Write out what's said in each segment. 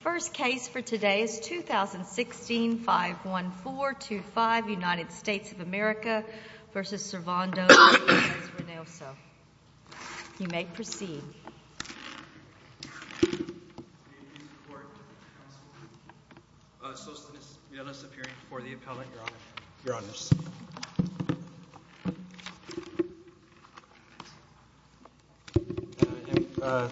The first case for today is 2016-51425, United States of America v. Servando Benitez-Reynoso. You may proceed. May it please the Court, counsel. Solstice, we have this appearance before the appellant, Your Honor. Your Honors. The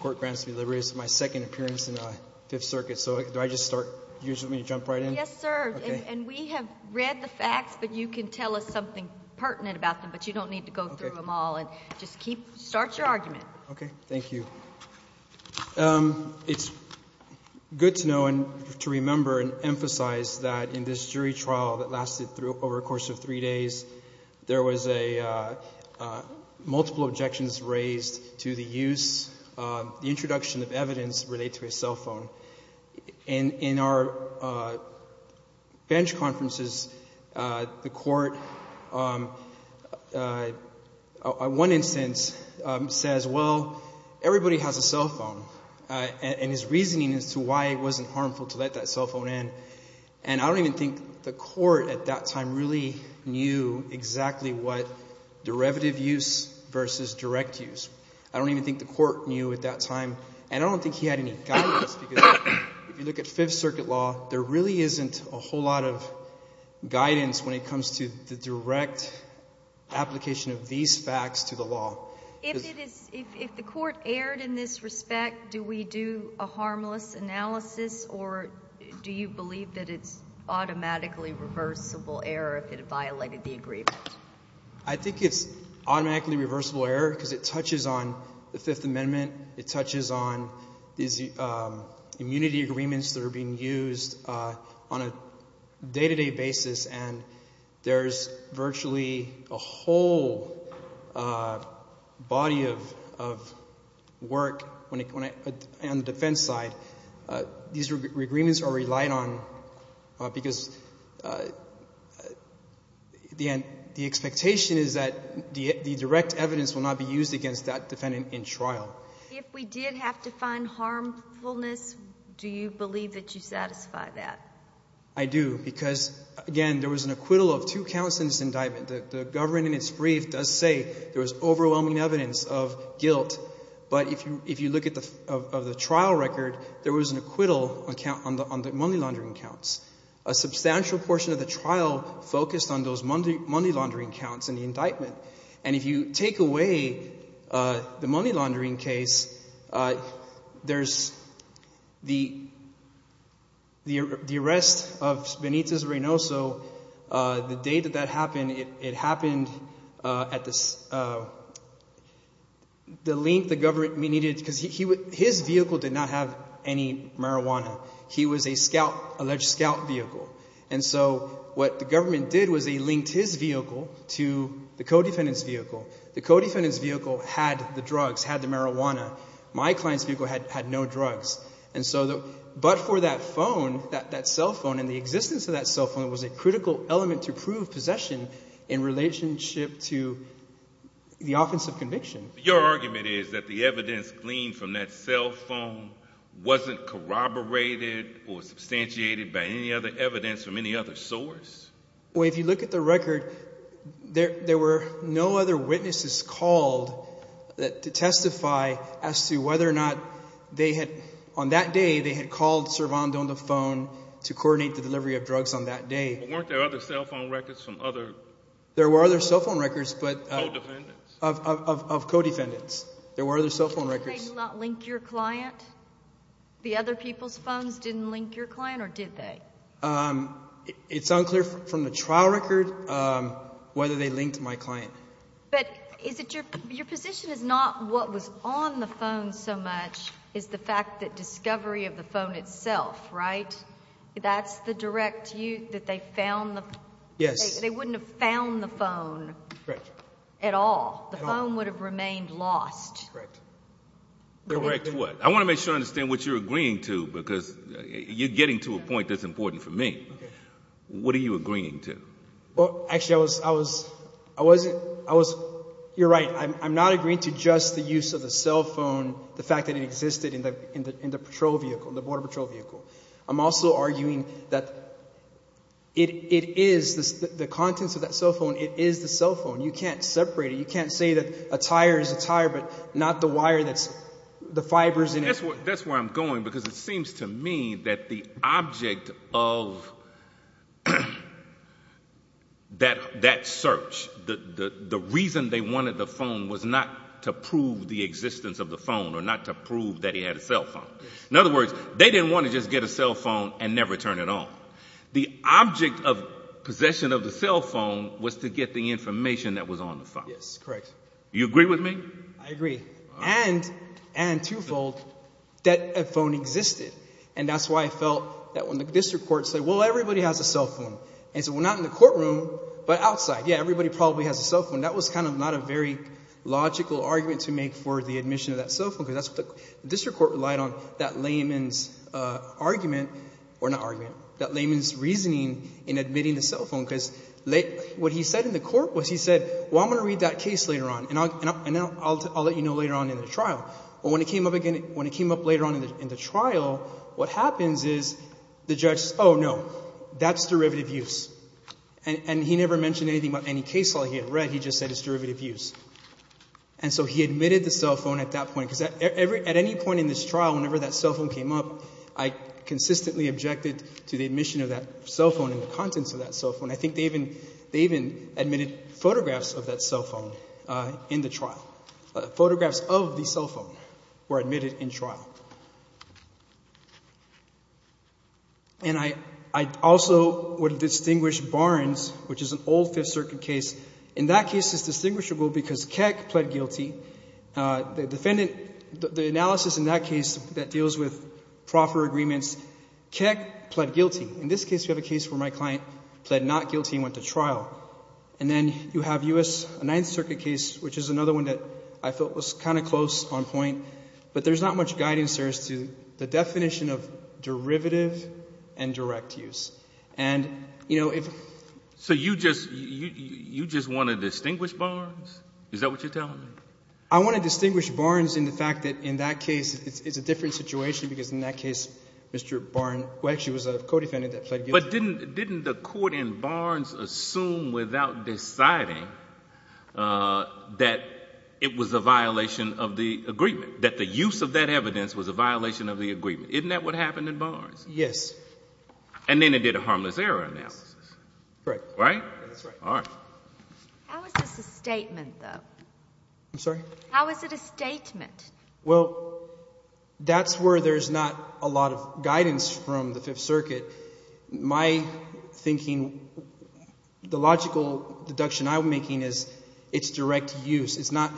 Court grants me liberty. This is my second appearance in the Fifth Circuit, so do I just start? Do you just want me to jump right in? Yes, sir. And we have read the facts, but you can tell us something pertinent about them, but you don't need to go through them all. Just keep – start your argument. Okay. Thank you. It's good to know and to remember and emphasize that in this jury trial that lasted over a course of three days, there was multiple objections raised to the use, the introduction of evidence related to a cell phone. In our bench conferences, the Court, in one instance, says, well, everybody has a cell phone, and his reasoning as to why it wasn't harmful to let that cell phone in. And I don't even think the Court at that time really knew exactly what derivative use versus direct use. I don't even think the Court knew at that time. And I don't think he had any guidance because if you look at Fifth Circuit law, there really isn't a whole lot of guidance when it comes to the direct application of these facts to the law. If the Court erred in this respect, do we do a harmless analysis, or do you believe that it's automatically reversible error if it violated the agreement? I think it's automatically reversible error because it touches on the Fifth Amendment. It touches on these immunity agreements that are being used on a day-to-day basis, and there's virtually a whole body of work on the defense side. These agreements are relied on because the expectation is that the direct evidence will not be used against that defendant in trial. If we did have to find harmfulness, do you believe that you satisfy that? I do because, again, there was an acquittal of two counts in this indictment. The government in its brief does say there was overwhelming evidence of guilt, but if you look at the trial record, there was an acquittal on the money laundering counts. A substantial portion of the trial focused on those money laundering counts in the indictment. And if you take away the money laundering case, there's the arrest of Benitez Reynoso. The day that that happened, it happened at the length the government needed because his vehicle did not have any marijuana. He was an alleged scout vehicle. And so what the government did was they linked his vehicle to the co-defendant's vehicle. The co-defendant's vehicle had the drugs, had the marijuana. My client's vehicle had no drugs. But for that phone, that cell phone and the existence of that cell phone was a critical element to prove possession in relationship to the offense of conviction. Your argument is that the evidence gleaned from that cell phone wasn't corroborated or substantiated by any other evidence from any other source? Well, if you look at the record, there were no other witnesses called to testify as to whether or not they had – on that day, they had called Cervantes on the phone to coordinate the delivery of drugs on that day. But weren't there other cell phone records from other – There were other cell phone records, but – Co-defendants? Of co-defendants. There were other cell phone records. Didn't they not link your client? The other people's phones didn't link your client, or did they? It's unclear from the trial record whether they linked my client. But is it your – your position is not what was on the phone so much is the fact that discovery of the phone itself, right? That's the direct – that they found the – Yes. They wouldn't have found the phone at all. The phone would have remained lost. Correct. Correct what? I want to make sure I understand what you're agreeing to because you're getting to a point that's important for me. What are you agreeing to? Well, actually, I was – I wasn't – I was – you're right. I'm not agreeing to just the use of the cell phone, the fact that it existed in the patrol vehicle, the border patrol vehicle. I'm also arguing that it is – the contents of that cell phone, it is the cell phone. You can't separate it. You can't say that a tire is a tire but not the wire that's – the fibers in it. That's where I'm going because it seems to me that the object of that search, the reason they wanted the phone was not to prove the existence of the phone or not to prove that he had a cell phone. In other words, they didn't want to just get a cell phone and never turn it on. The object of possession of the cell phone was to get the information that was on the phone. Yes, correct. Do you agree with me? I agree, and twofold, that a phone existed. And that's why I felt that when the district court said, well, everybody has a cell phone. And I said, well, not in the courtroom but outside. Yeah, everybody probably has a cell phone. That was kind of not a very logical argument to make for the admission of that cell phone because that's what the district court relied on, that layman's argument – or not argument. That layman's reasoning in admitting the cell phone because what he said in the court was he said, well, I'm going to read that case later on and I'll let you know later on in the trial. But when it came up again – when it came up later on in the trial, what happens is the judge says, oh, no, that's derivative use. And he never mentioned anything about any case law he had read. He just said it's derivative use. And so he admitted the cell phone at that point because at any point in this trial, whenever that cell phone came up, I consistently objected to the admission of that cell phone and the contents of that cell phone. I think they even admitted photographs of that cell phone in the trial. Photographs of the cell phone were admitted in trial. And I also would distinguish Barnes, which is an old Fifth Circuit case. In that case, it's distinguishable because Keck pled guilty. The defendant – the analysis in that case that deals with proffer agreements, Keck pled guilty. In this case, we have a case where my client pled not guilty and went to trial. And then you have U.S., a Ninth Circuit case, which is another one that I felt was kind of close on point. But there's not much guidance there as to the definition of derivative and direct use. And, you know, if – So you just – you just want to distinguish Barnes? Is that what you're telling me? I want to distinguish Barnes in the fact that in that case it's a different situation because in that case Mr. Barnes, who actually was a co-defendant that pled guilty. But didn't the court in Barnes assume without deciding that it was a violation of the agreement, that the use of that evidence was a violation of the agreement? Isn't that what happened in Barnes? Yes. And then it did a harmless error analysis. Right. Right? That's right. All right. I'm sorry? How is it a statement? Well, that's where there's not a lot of guidance from the Fifth Circuit. My thinking – the logical deduction I'm making is it's direct use. It's not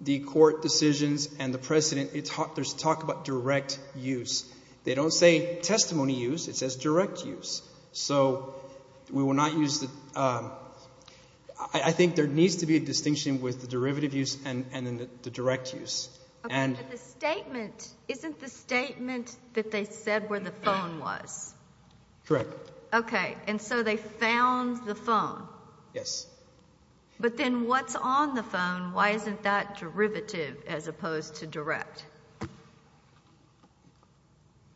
the court decisions and the precedent. There's talk about direct use. They don't say testimony use. It says direct use. So we will not use the – I think there needs to be a distinction with the derivative use and the direct use. And the statement – isn't the statement that they said where the phone was? Correct. Okay. And so they found the phone? Yes. But then what's on the phone? Why isn't that derivative as opposed to direct?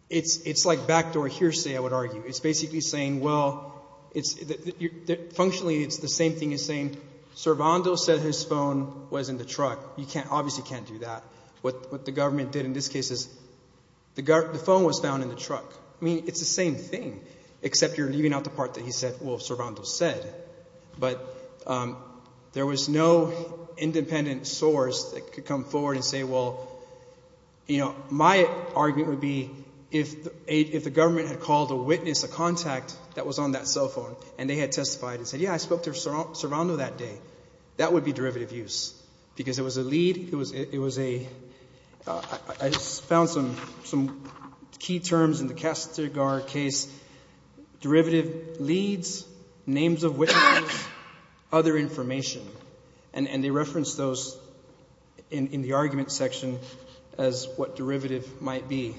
It's like backdoor hearsay, I would argue. It's basically saying, well, it's – functionally it's the same thing as saying, Servando said his phone was in the truck. You can't – obviously can't do that. What the government did in this case is the phone was found in the truck. I mean, it's the same thing, except you're leaving out the part that he said, well, Servando said. But there was no independent source that could come forward and say, well, my argument would be if the government had called a witness, a contact that was on that cell phone, and they had testified and said, yeah, I spoke to Servando that day, that would be derivative use. Because it was a lead, it was a – I found some key terms in the Castigar case, derivative leads, names of witnesses, other information. And they referenced those in the argument section as what derivative might be.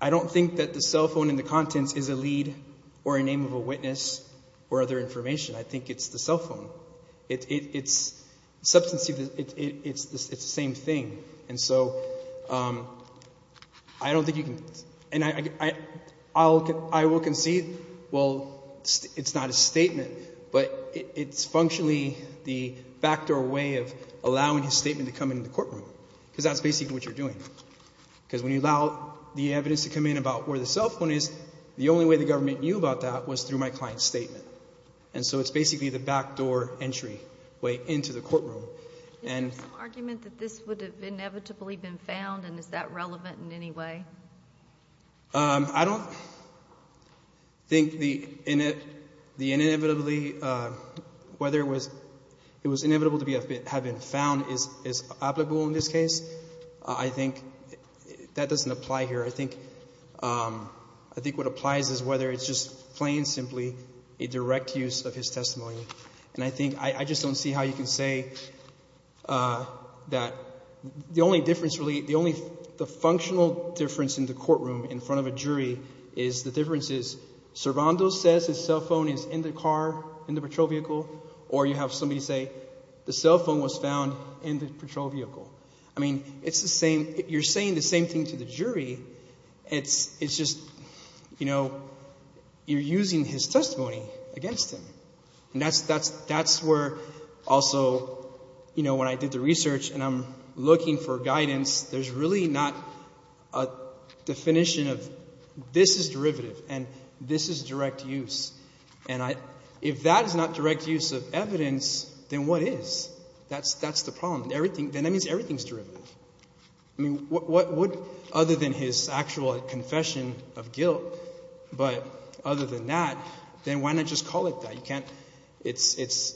I don't think that the cell phone in the contents is a lead or a name of a witness or other information. I think it's the cell phone. It's – the substance of it, it's the same thing. And so I don't think you can – and I will concede, well, it's not a statement, but it's functionally the backdoor way of allowing his statement to come into the courtroom because that's basically what you're doing. Because when you allow the evidence to come in about where the cell phone is, the only way the government knew about that was through my client's statement. And so it's basically the backdoor entry way into the courtroom. Is there some argument that this would have inevitably been found, and is that relevant in any way? I don't think the inevitably – whether it was inevitable to have been found is applicable in this case. I think that doesn't apply here. I think what applies is whether it's just plain and simply a direct use of his testimony. And I think – I just don't see how you can say that the only difference really – the only – the functional difference in the courtroom in front of a jury is the difference is Servando says his cell phone is in the car, in the patrol vehicle, or you have somebody say the cell phone was found in the patrol vehicle. I mean, it's the same – you're saying the same thing to the jury. It's just – you're using his testimony against him. And that's where also, you know, when I did the research and I'm looking for guidance, there's really not a definition of this is derivative and this is direct use. And if that is not direct use of evidence, then what is? That's the problem. Then that means everything is derivative. I mean, what would – other than his actual confession of guilt, but other than that, then why not just call it that? You can't – it's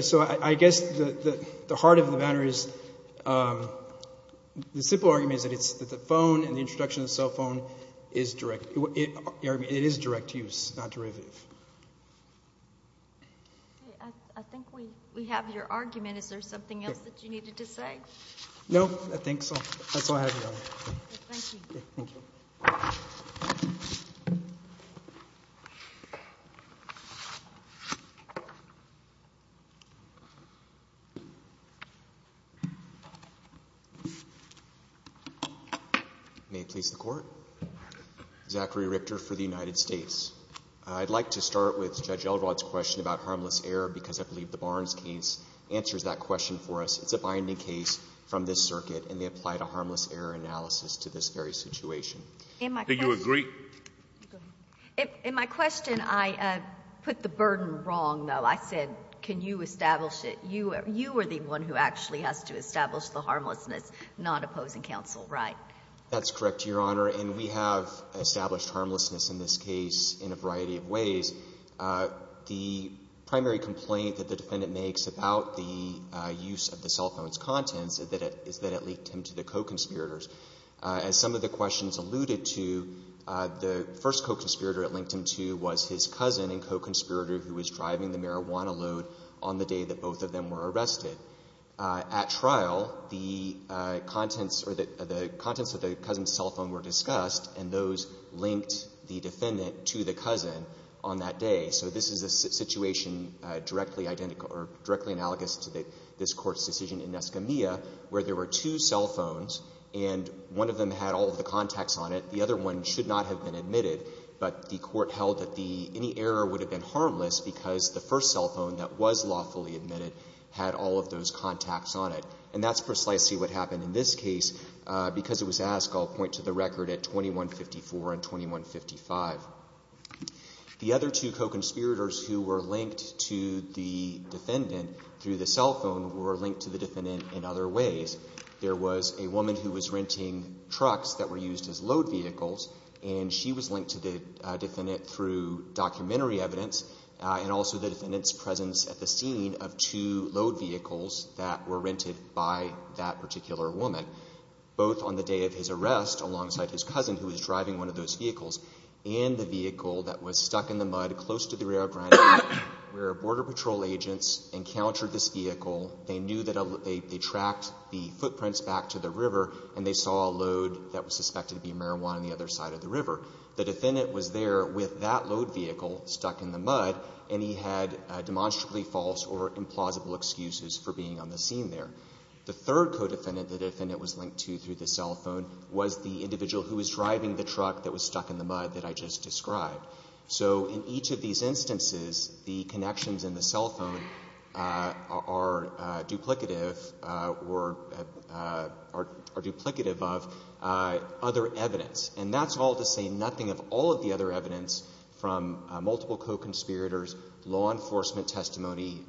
– so I guess the heart of the matter is – the simple argument is that the phone and the introduction of the cell phone is direct – it is direct use, not derivative. Okay. I think we have your argument. Is there something else that you needed to say? No, I think so. That's all I have, Your Honor. Thank you. Thank you. May it please the Court. Zachary Richter for the United States. I'd like to start with Judge Elrod's question about harmless error because I believe the Barnes case answers that question for us. It's a binding case from this circuit, and they applied a harmless error analysis to this very situation. Do you agree? In my question, I put the burden wrong, though. I said, can you establish it? You are the one who actually has to establish the harmlessness, not opposing counsel, right? That's correct, Your Honor. And we have established harmlessness in this case in a variety of ways. One is that it linked him to the co-conspirators. As some of the questions alluded to, the first co-conspirator it linked him to was his cousin and co-conspirator who was driving the marijuana load on the day that both of them were arrested. At trial, the contents of the cousin's cell phone were discussed, and those linked the defendant to the cousin on that day. So this is a situation directly analogous to this Court's decision in Escamilla where there were two cell phones and one of them had all of the contacts on it. The other one should not have been admitted, but the Court held that any error would have been harmless because the first cell phone that was lawfully admitted had all of those contacts on it. And that's precisely what happened in this case. Because it was asked, I'll point to the record at 2154 and 2155. The other two co-conspirators who were linked to the defendant through the cell phone were linked to the defendant in other ways. There was a woman who was renting trucks that were used as load vehicles, and she was linked to the defendant through documentary evidence and also the defendant's presence at the scene of two load vehicles that were rented by that particular woman, both on the day of his arrest alongside his cousin who was driving one of those vehicles and the vehicle that was stuck in the mud close to the Rio Grande where Border Patrol agents encountered this vehicle. They knew that they tracked the footprints back to the river and they saw a load that was suspected to be marijuana on the other side of the river. The defendant was there with that load vehicle stuck in the mud, and he had demonstrably false or implausible excuses for being on the scene there. The third co-defendant the defendant was linked to through the cell phone was the individual who was driving the truck that was stuck in the mud that I just described. So in each of these instances, the connections in the cell phone are duplicative of other evidence, and that's all to say nothing of all of the other evidence from multiple co-conspirators, law enforcement testimony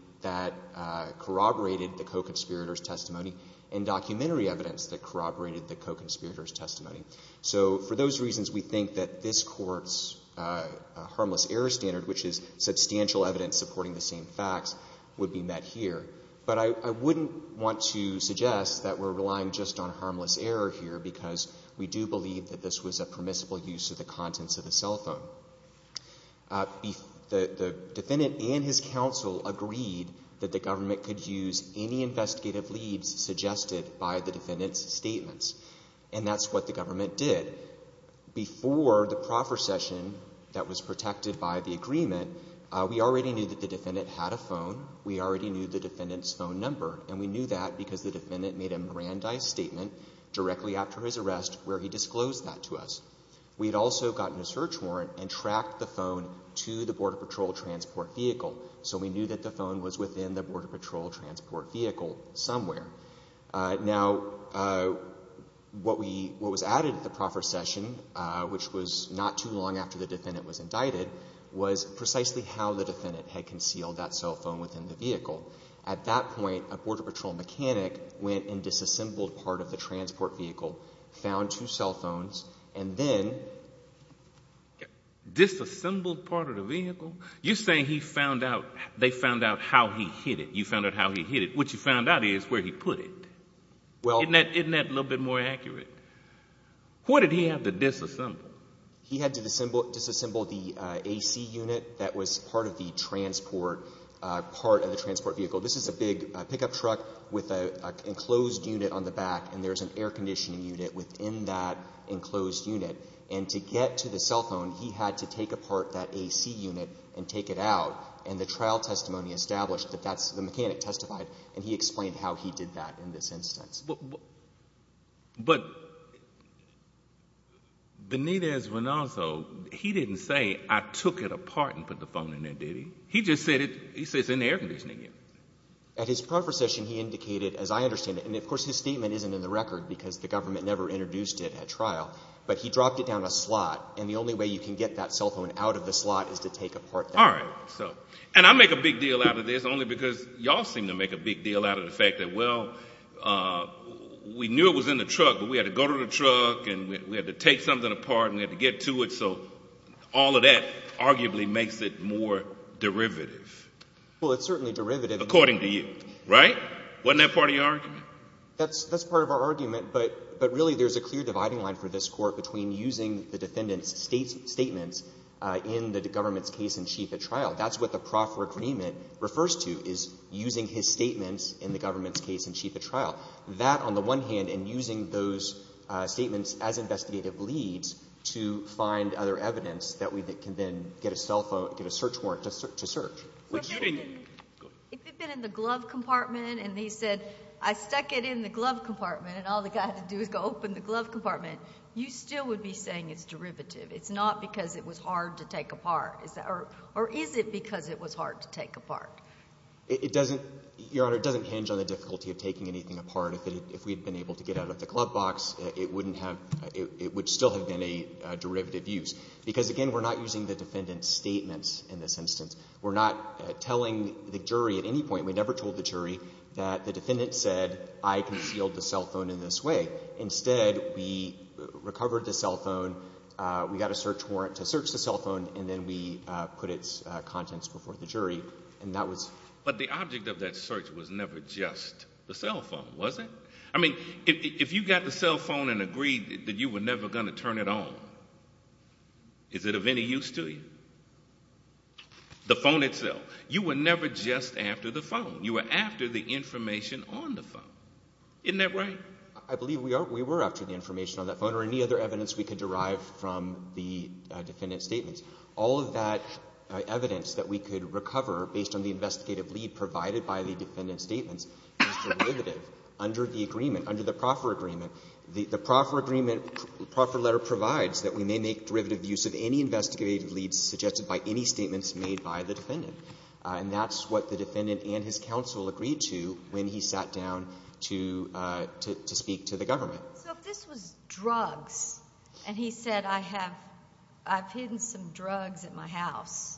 and documentary evidence that corroborated the co-conspirators' testimony. So for those reasons, we think that this Court's harmless error standard, which is substantial evidence supporting the same facts, would be met here. But I wouldn't want to suggest that we're relying just on harmless error here because we do believe that this was a permissible use of the contents of the cell phone. The defendant and his counsel agreed that the government could use any investigative leads suggested by the defendant's statements, and that's what the government did. Before the proffer session that was protected by the agreement, we already knew that the defendant had a phone. We already knew the defendant's phone number, and we knew that because the defendant made a Mirandai statement directly after his arrest where he disclosed that to us. We had also gotten a search warrant and tracked the phone to the Border Patrol transport vehicle, so we knew that the phone was within the Border Patrol transport vehicle somewhere. Now, what was added at the proffer session, which was not too long after the defendant was indicted, was precisely how the defendant had concealed that cell phone within the vehicle. At that point, a Border Patrol mechanic went and disassembled part of the transport vehicle, found two cell phones, and then... Disassembled part of the vehicle? You're saying they found out how he hid it. You found out how he hid it. What you found out is where he put it. Isn't that a little bit more accurate? What did he have to disassemble? He had to disassemble the AC unit that was part of the transport vehicle. This is a big pickup truck with an enclosed unit on the back, and there's an air conditioning unit within that enclosed unit. And to get to the cell phone, he had to take apart that AC unit and take it out, and the trial testimony established that that's the mechanic testified, and he explained how he did that in this instance. But Benitez-Renoso, he didn't say, I took it apart and put the phone in there, did he? He just said it's in the air conditioning unit. At his proffer session, he indicated, as I understand it, and of course his statement isn't in the record because the government never introduced it at trial, but he dropped it down a slot, and the only way you can get that cell phone out of the slot is to take apart that. All right. And I make a big deal out of this only because y'all seem to make a big deal out of the fact that, well, we knew it was in the truck, but we had to go to the truck and we had to take something apart and we had to get to it, so all of that arguably makes it more derivative. Well, it's certainly derivative. According to you, right? Wasn't that part of your argument? That's part of our argument, but really there's a clear dividing line for this court between using the defendant's statements in the government's case in chief at trial. That's what the proffer agreement refers to, is using his statements in the government's case in chief at trial. That, on the one hand, and using those statements as investigative leads to find other evidence that we can then get a cell phone, get a search warrant to search. If it had been in the glove compartment and he said, I stuck it in the glove compartment and all the guy had to do was go open the glove compartment, you still would be saying it's derivative. It's not because it was hard to take apart. Or is it because it was hard to take apart? It doesn't, Your Honor, it doesn't hinge on the difficulty of taking anything apart. If we had been able to get out of the glove box, it would still have been a derivative use. Because, again, we're not using the defendant's statements in this instance. We're not telling the jury at any point, we never told the jury that the defendant said, I concealed the cell phone in this way. Instead, we recovered the cell phone, we got a search warrant to search the cell phone, and then we put its contents before the jury. But the object of that search was never just the cell phone, was it? I mean, if you got the cell phone and agreed that you were never going to turn it on, is it of any use to you? The phone itself. You were never just after the phone. You were after the information on the phone. Isn't that right? I believe we were after the information on that phone or any other evidence we could derive from the defendant's statements. All of that evidence that we could recover based on the investigative lead provided by the defendant's statements is derivative under the agreement, under the proffer agreement. The proffer agreement, the proffer letter provides that we may make derivative use of any investigative lead suggested by any statements made by the defendant. And that's what the defendant and his counsel agreed to when he sat down to speak to the government. So if this was drugs, and he said, I've hidden some drugs at my house,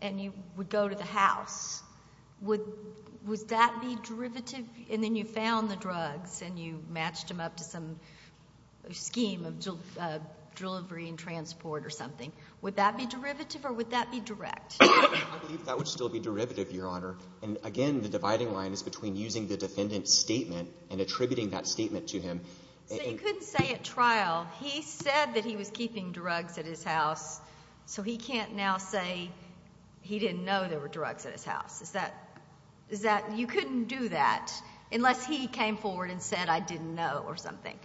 and you would go to the house, would that be derivative? And then you found the drugs, and you matched them up to some scheme of delivery and transport or something. Would that be derivative or would that be direct? I believe that would still be derivative, Your Honor. And again, the dividing line is between using the defendant's statement and attributing that statement to him. So you couldn't say at trial, he said that he was keeping drugs at his house, so he can't now say he didn't know there were drugs at his house. You couldn't do that unless he came forward and said, I didn't know, or something.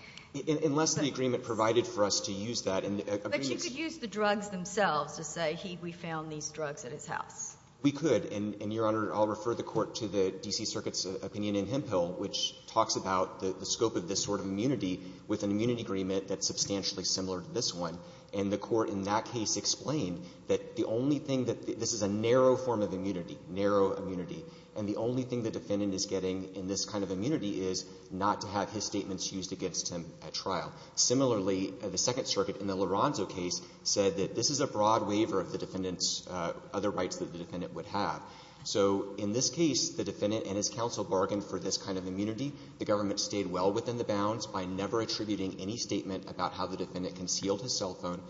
Unless the agreement provided for us to use that. But you could use the drugs themselves to say, we found these drugs at his house. We could, and, Your Honor, I'll refer the Court to the D.C. Circuit's opinion in Hemphill, which talks about the scope of this sort of immunity with an immunity agreement that's substantially similar to this one. And the Court in that case explained that the only thing that this is a narrow form of immunity, narrow immunity, and the only thing the defendant is getting in this kind of immunity is not to have his statements used against him at trial. Similarly, the Second Circuit in the Lorenzo case said that this is a broad waiver of the defendant's other rights that the defendant would have. So in this case, the defendant and his counsel bargained for this kind of immunity. The government stayed well within the bounds by never attributing any statement about how the defendant concealed his cell phone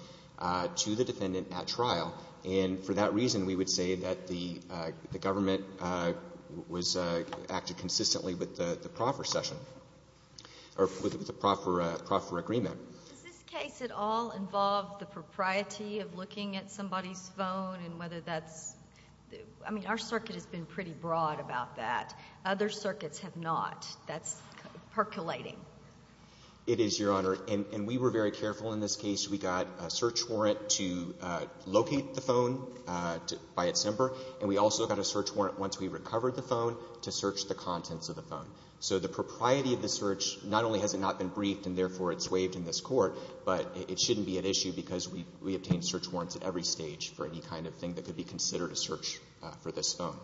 to the defendant at trial. And for that reason, we would say that the government was acting consistently with the proffer session, or with the proffer agreement. Does this case at all involve the propriety of looking at somebody's phone and whether that's... I mean, our circuit has been pretty broad about that. Other circuits have not. That's percolating. It is, Your Honor. And we were very careful in this case. We got a search warrant to locate the phone by its number, and we also got a search warrant once we recovered the phone to search the contents of the phone. So the propriety of the search, not only has it not been briefed and therefore it's waived in this Court, but it shouldn't be an issue because we obtain search warrants at every stage for any kind of thing that could be considered a search for this phone.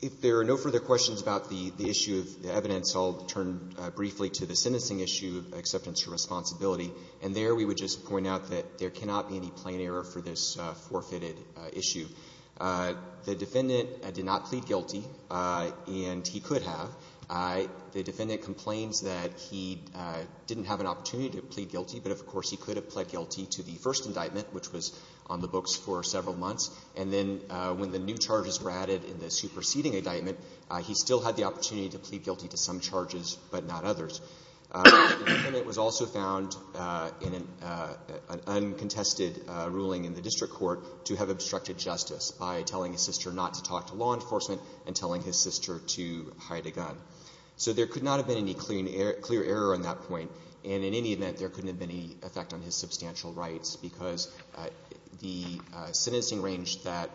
If there are no further questions about the issue of the evidence, I'll turn briefly to the sentencing issue, acceptance for responsibility. And there we would just point out that there cannot be any plain error for this forfeited issue. The defendant did not plead guilty, and he could have. The defendant complains that he didn't have an opportunity to plead guilty, but, of course, he could have pled guilty to the first indictment, which was on the books for several months. And then when the new charges were added in the superseding indictment, he still had the opportunity to plead guilty to some charges but not others. The defendant was also found in an uncontested ruling in the district court to have obstructed justice by telling his sister not to talk to law enforcement and telling his sister to hide a gun. So there could not have been any clear error on that point, and in any event, there couldn't have been any effect on his substantial rights because the sentencing range that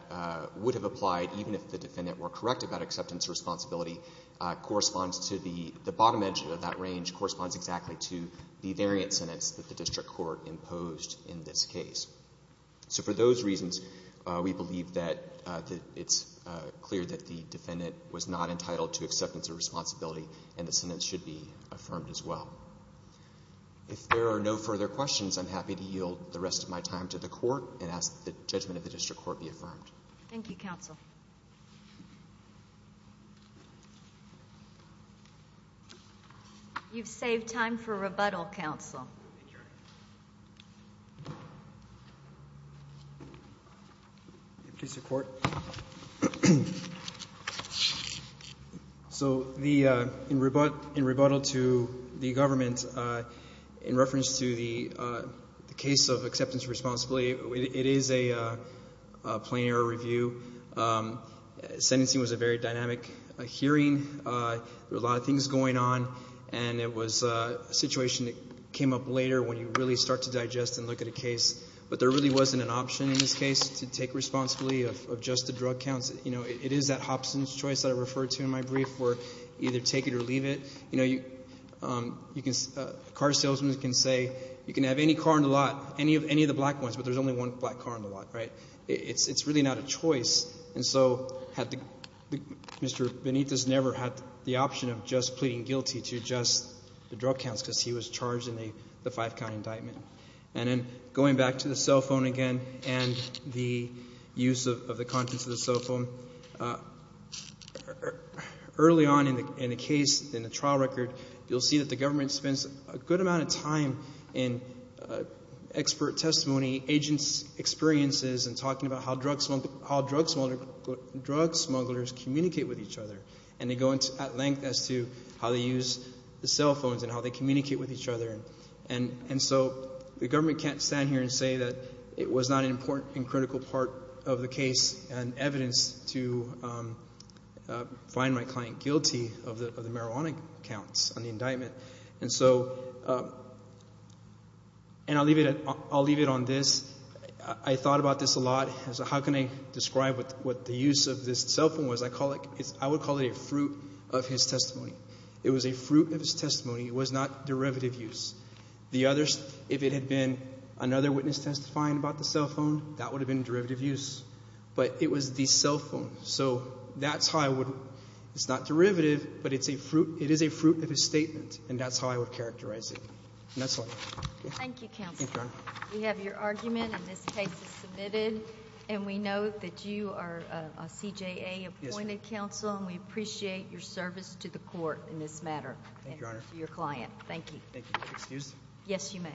would have applied even if the defendant were correct about acceptance for responsibility corresponds to the bottom edge of that range corresponds exactly to the variant sentence that the district court imposed in this case. So for those reasons, we believe that it's clear that the defendant was not entitled to acceptance of responsibility, and the sentence should be affirmed as well. If there are no further questions, I'm happy to yield the rest of my time to the court and ask that the judgment of the district court be affirmed. Thank you, counsel. You've saved time for rebuttal, counsel. So in rebuttal to the government, in reference to the case of acceptance of responsibility, it is a plain error review. Sentencing was a very dynamic hearing. There were a lot of things going on, and it was a situation that came up later when you really start to digest and look at a case, but there really wasn't an option in this case to take responsibility of just the drug counts. You know, it is that Hobson's choice that I referred to in my brief where either take it or leave it. You know, a car salesman can say you can have any car on the lot, any of the black ones, but there's only one black car on the lot, right? It's really not a choice, and so Mr. Benitez never had the option of just pleading guilty to just the drug counts because he was charged in the five-count indictment. And then going back to the cell phone again and the use of the contents of the cell phone, early on in the case, in the trial record, you'll see that the government spends a good amount of time in expert testimony, agents' experiences, and talking about how drug smugglers communicate with each other, and they go at length as to how they use the cell phones and how they communicate with each other. And so the government can't stand here and say that it was not an important and critical part of the case and evidence to find my client guilty of the marijuana counts on the indictment. And so, and I'll leave it on this. I thought about this a lot. How can I describe what the use of this cell phone was? I call it, I would call it a fruit of his testimony. It was a fruit of his testimony. It was not derivative use. The other, if it had been another witness testifying about the cell phone, that would have been derivative use. But it was the cell phone. So that's how I would, it's not derivative, but it is a fruit of his statement, And that's all. Thank you, counsel. Thank you, Your Honor. We have your argument, and this case is submitted. And we know that you are a CJA-appointed counsel, and we appreciate your service to the court in this matter and to your client. Thank you. Thank you. Excuse? Yes, you may.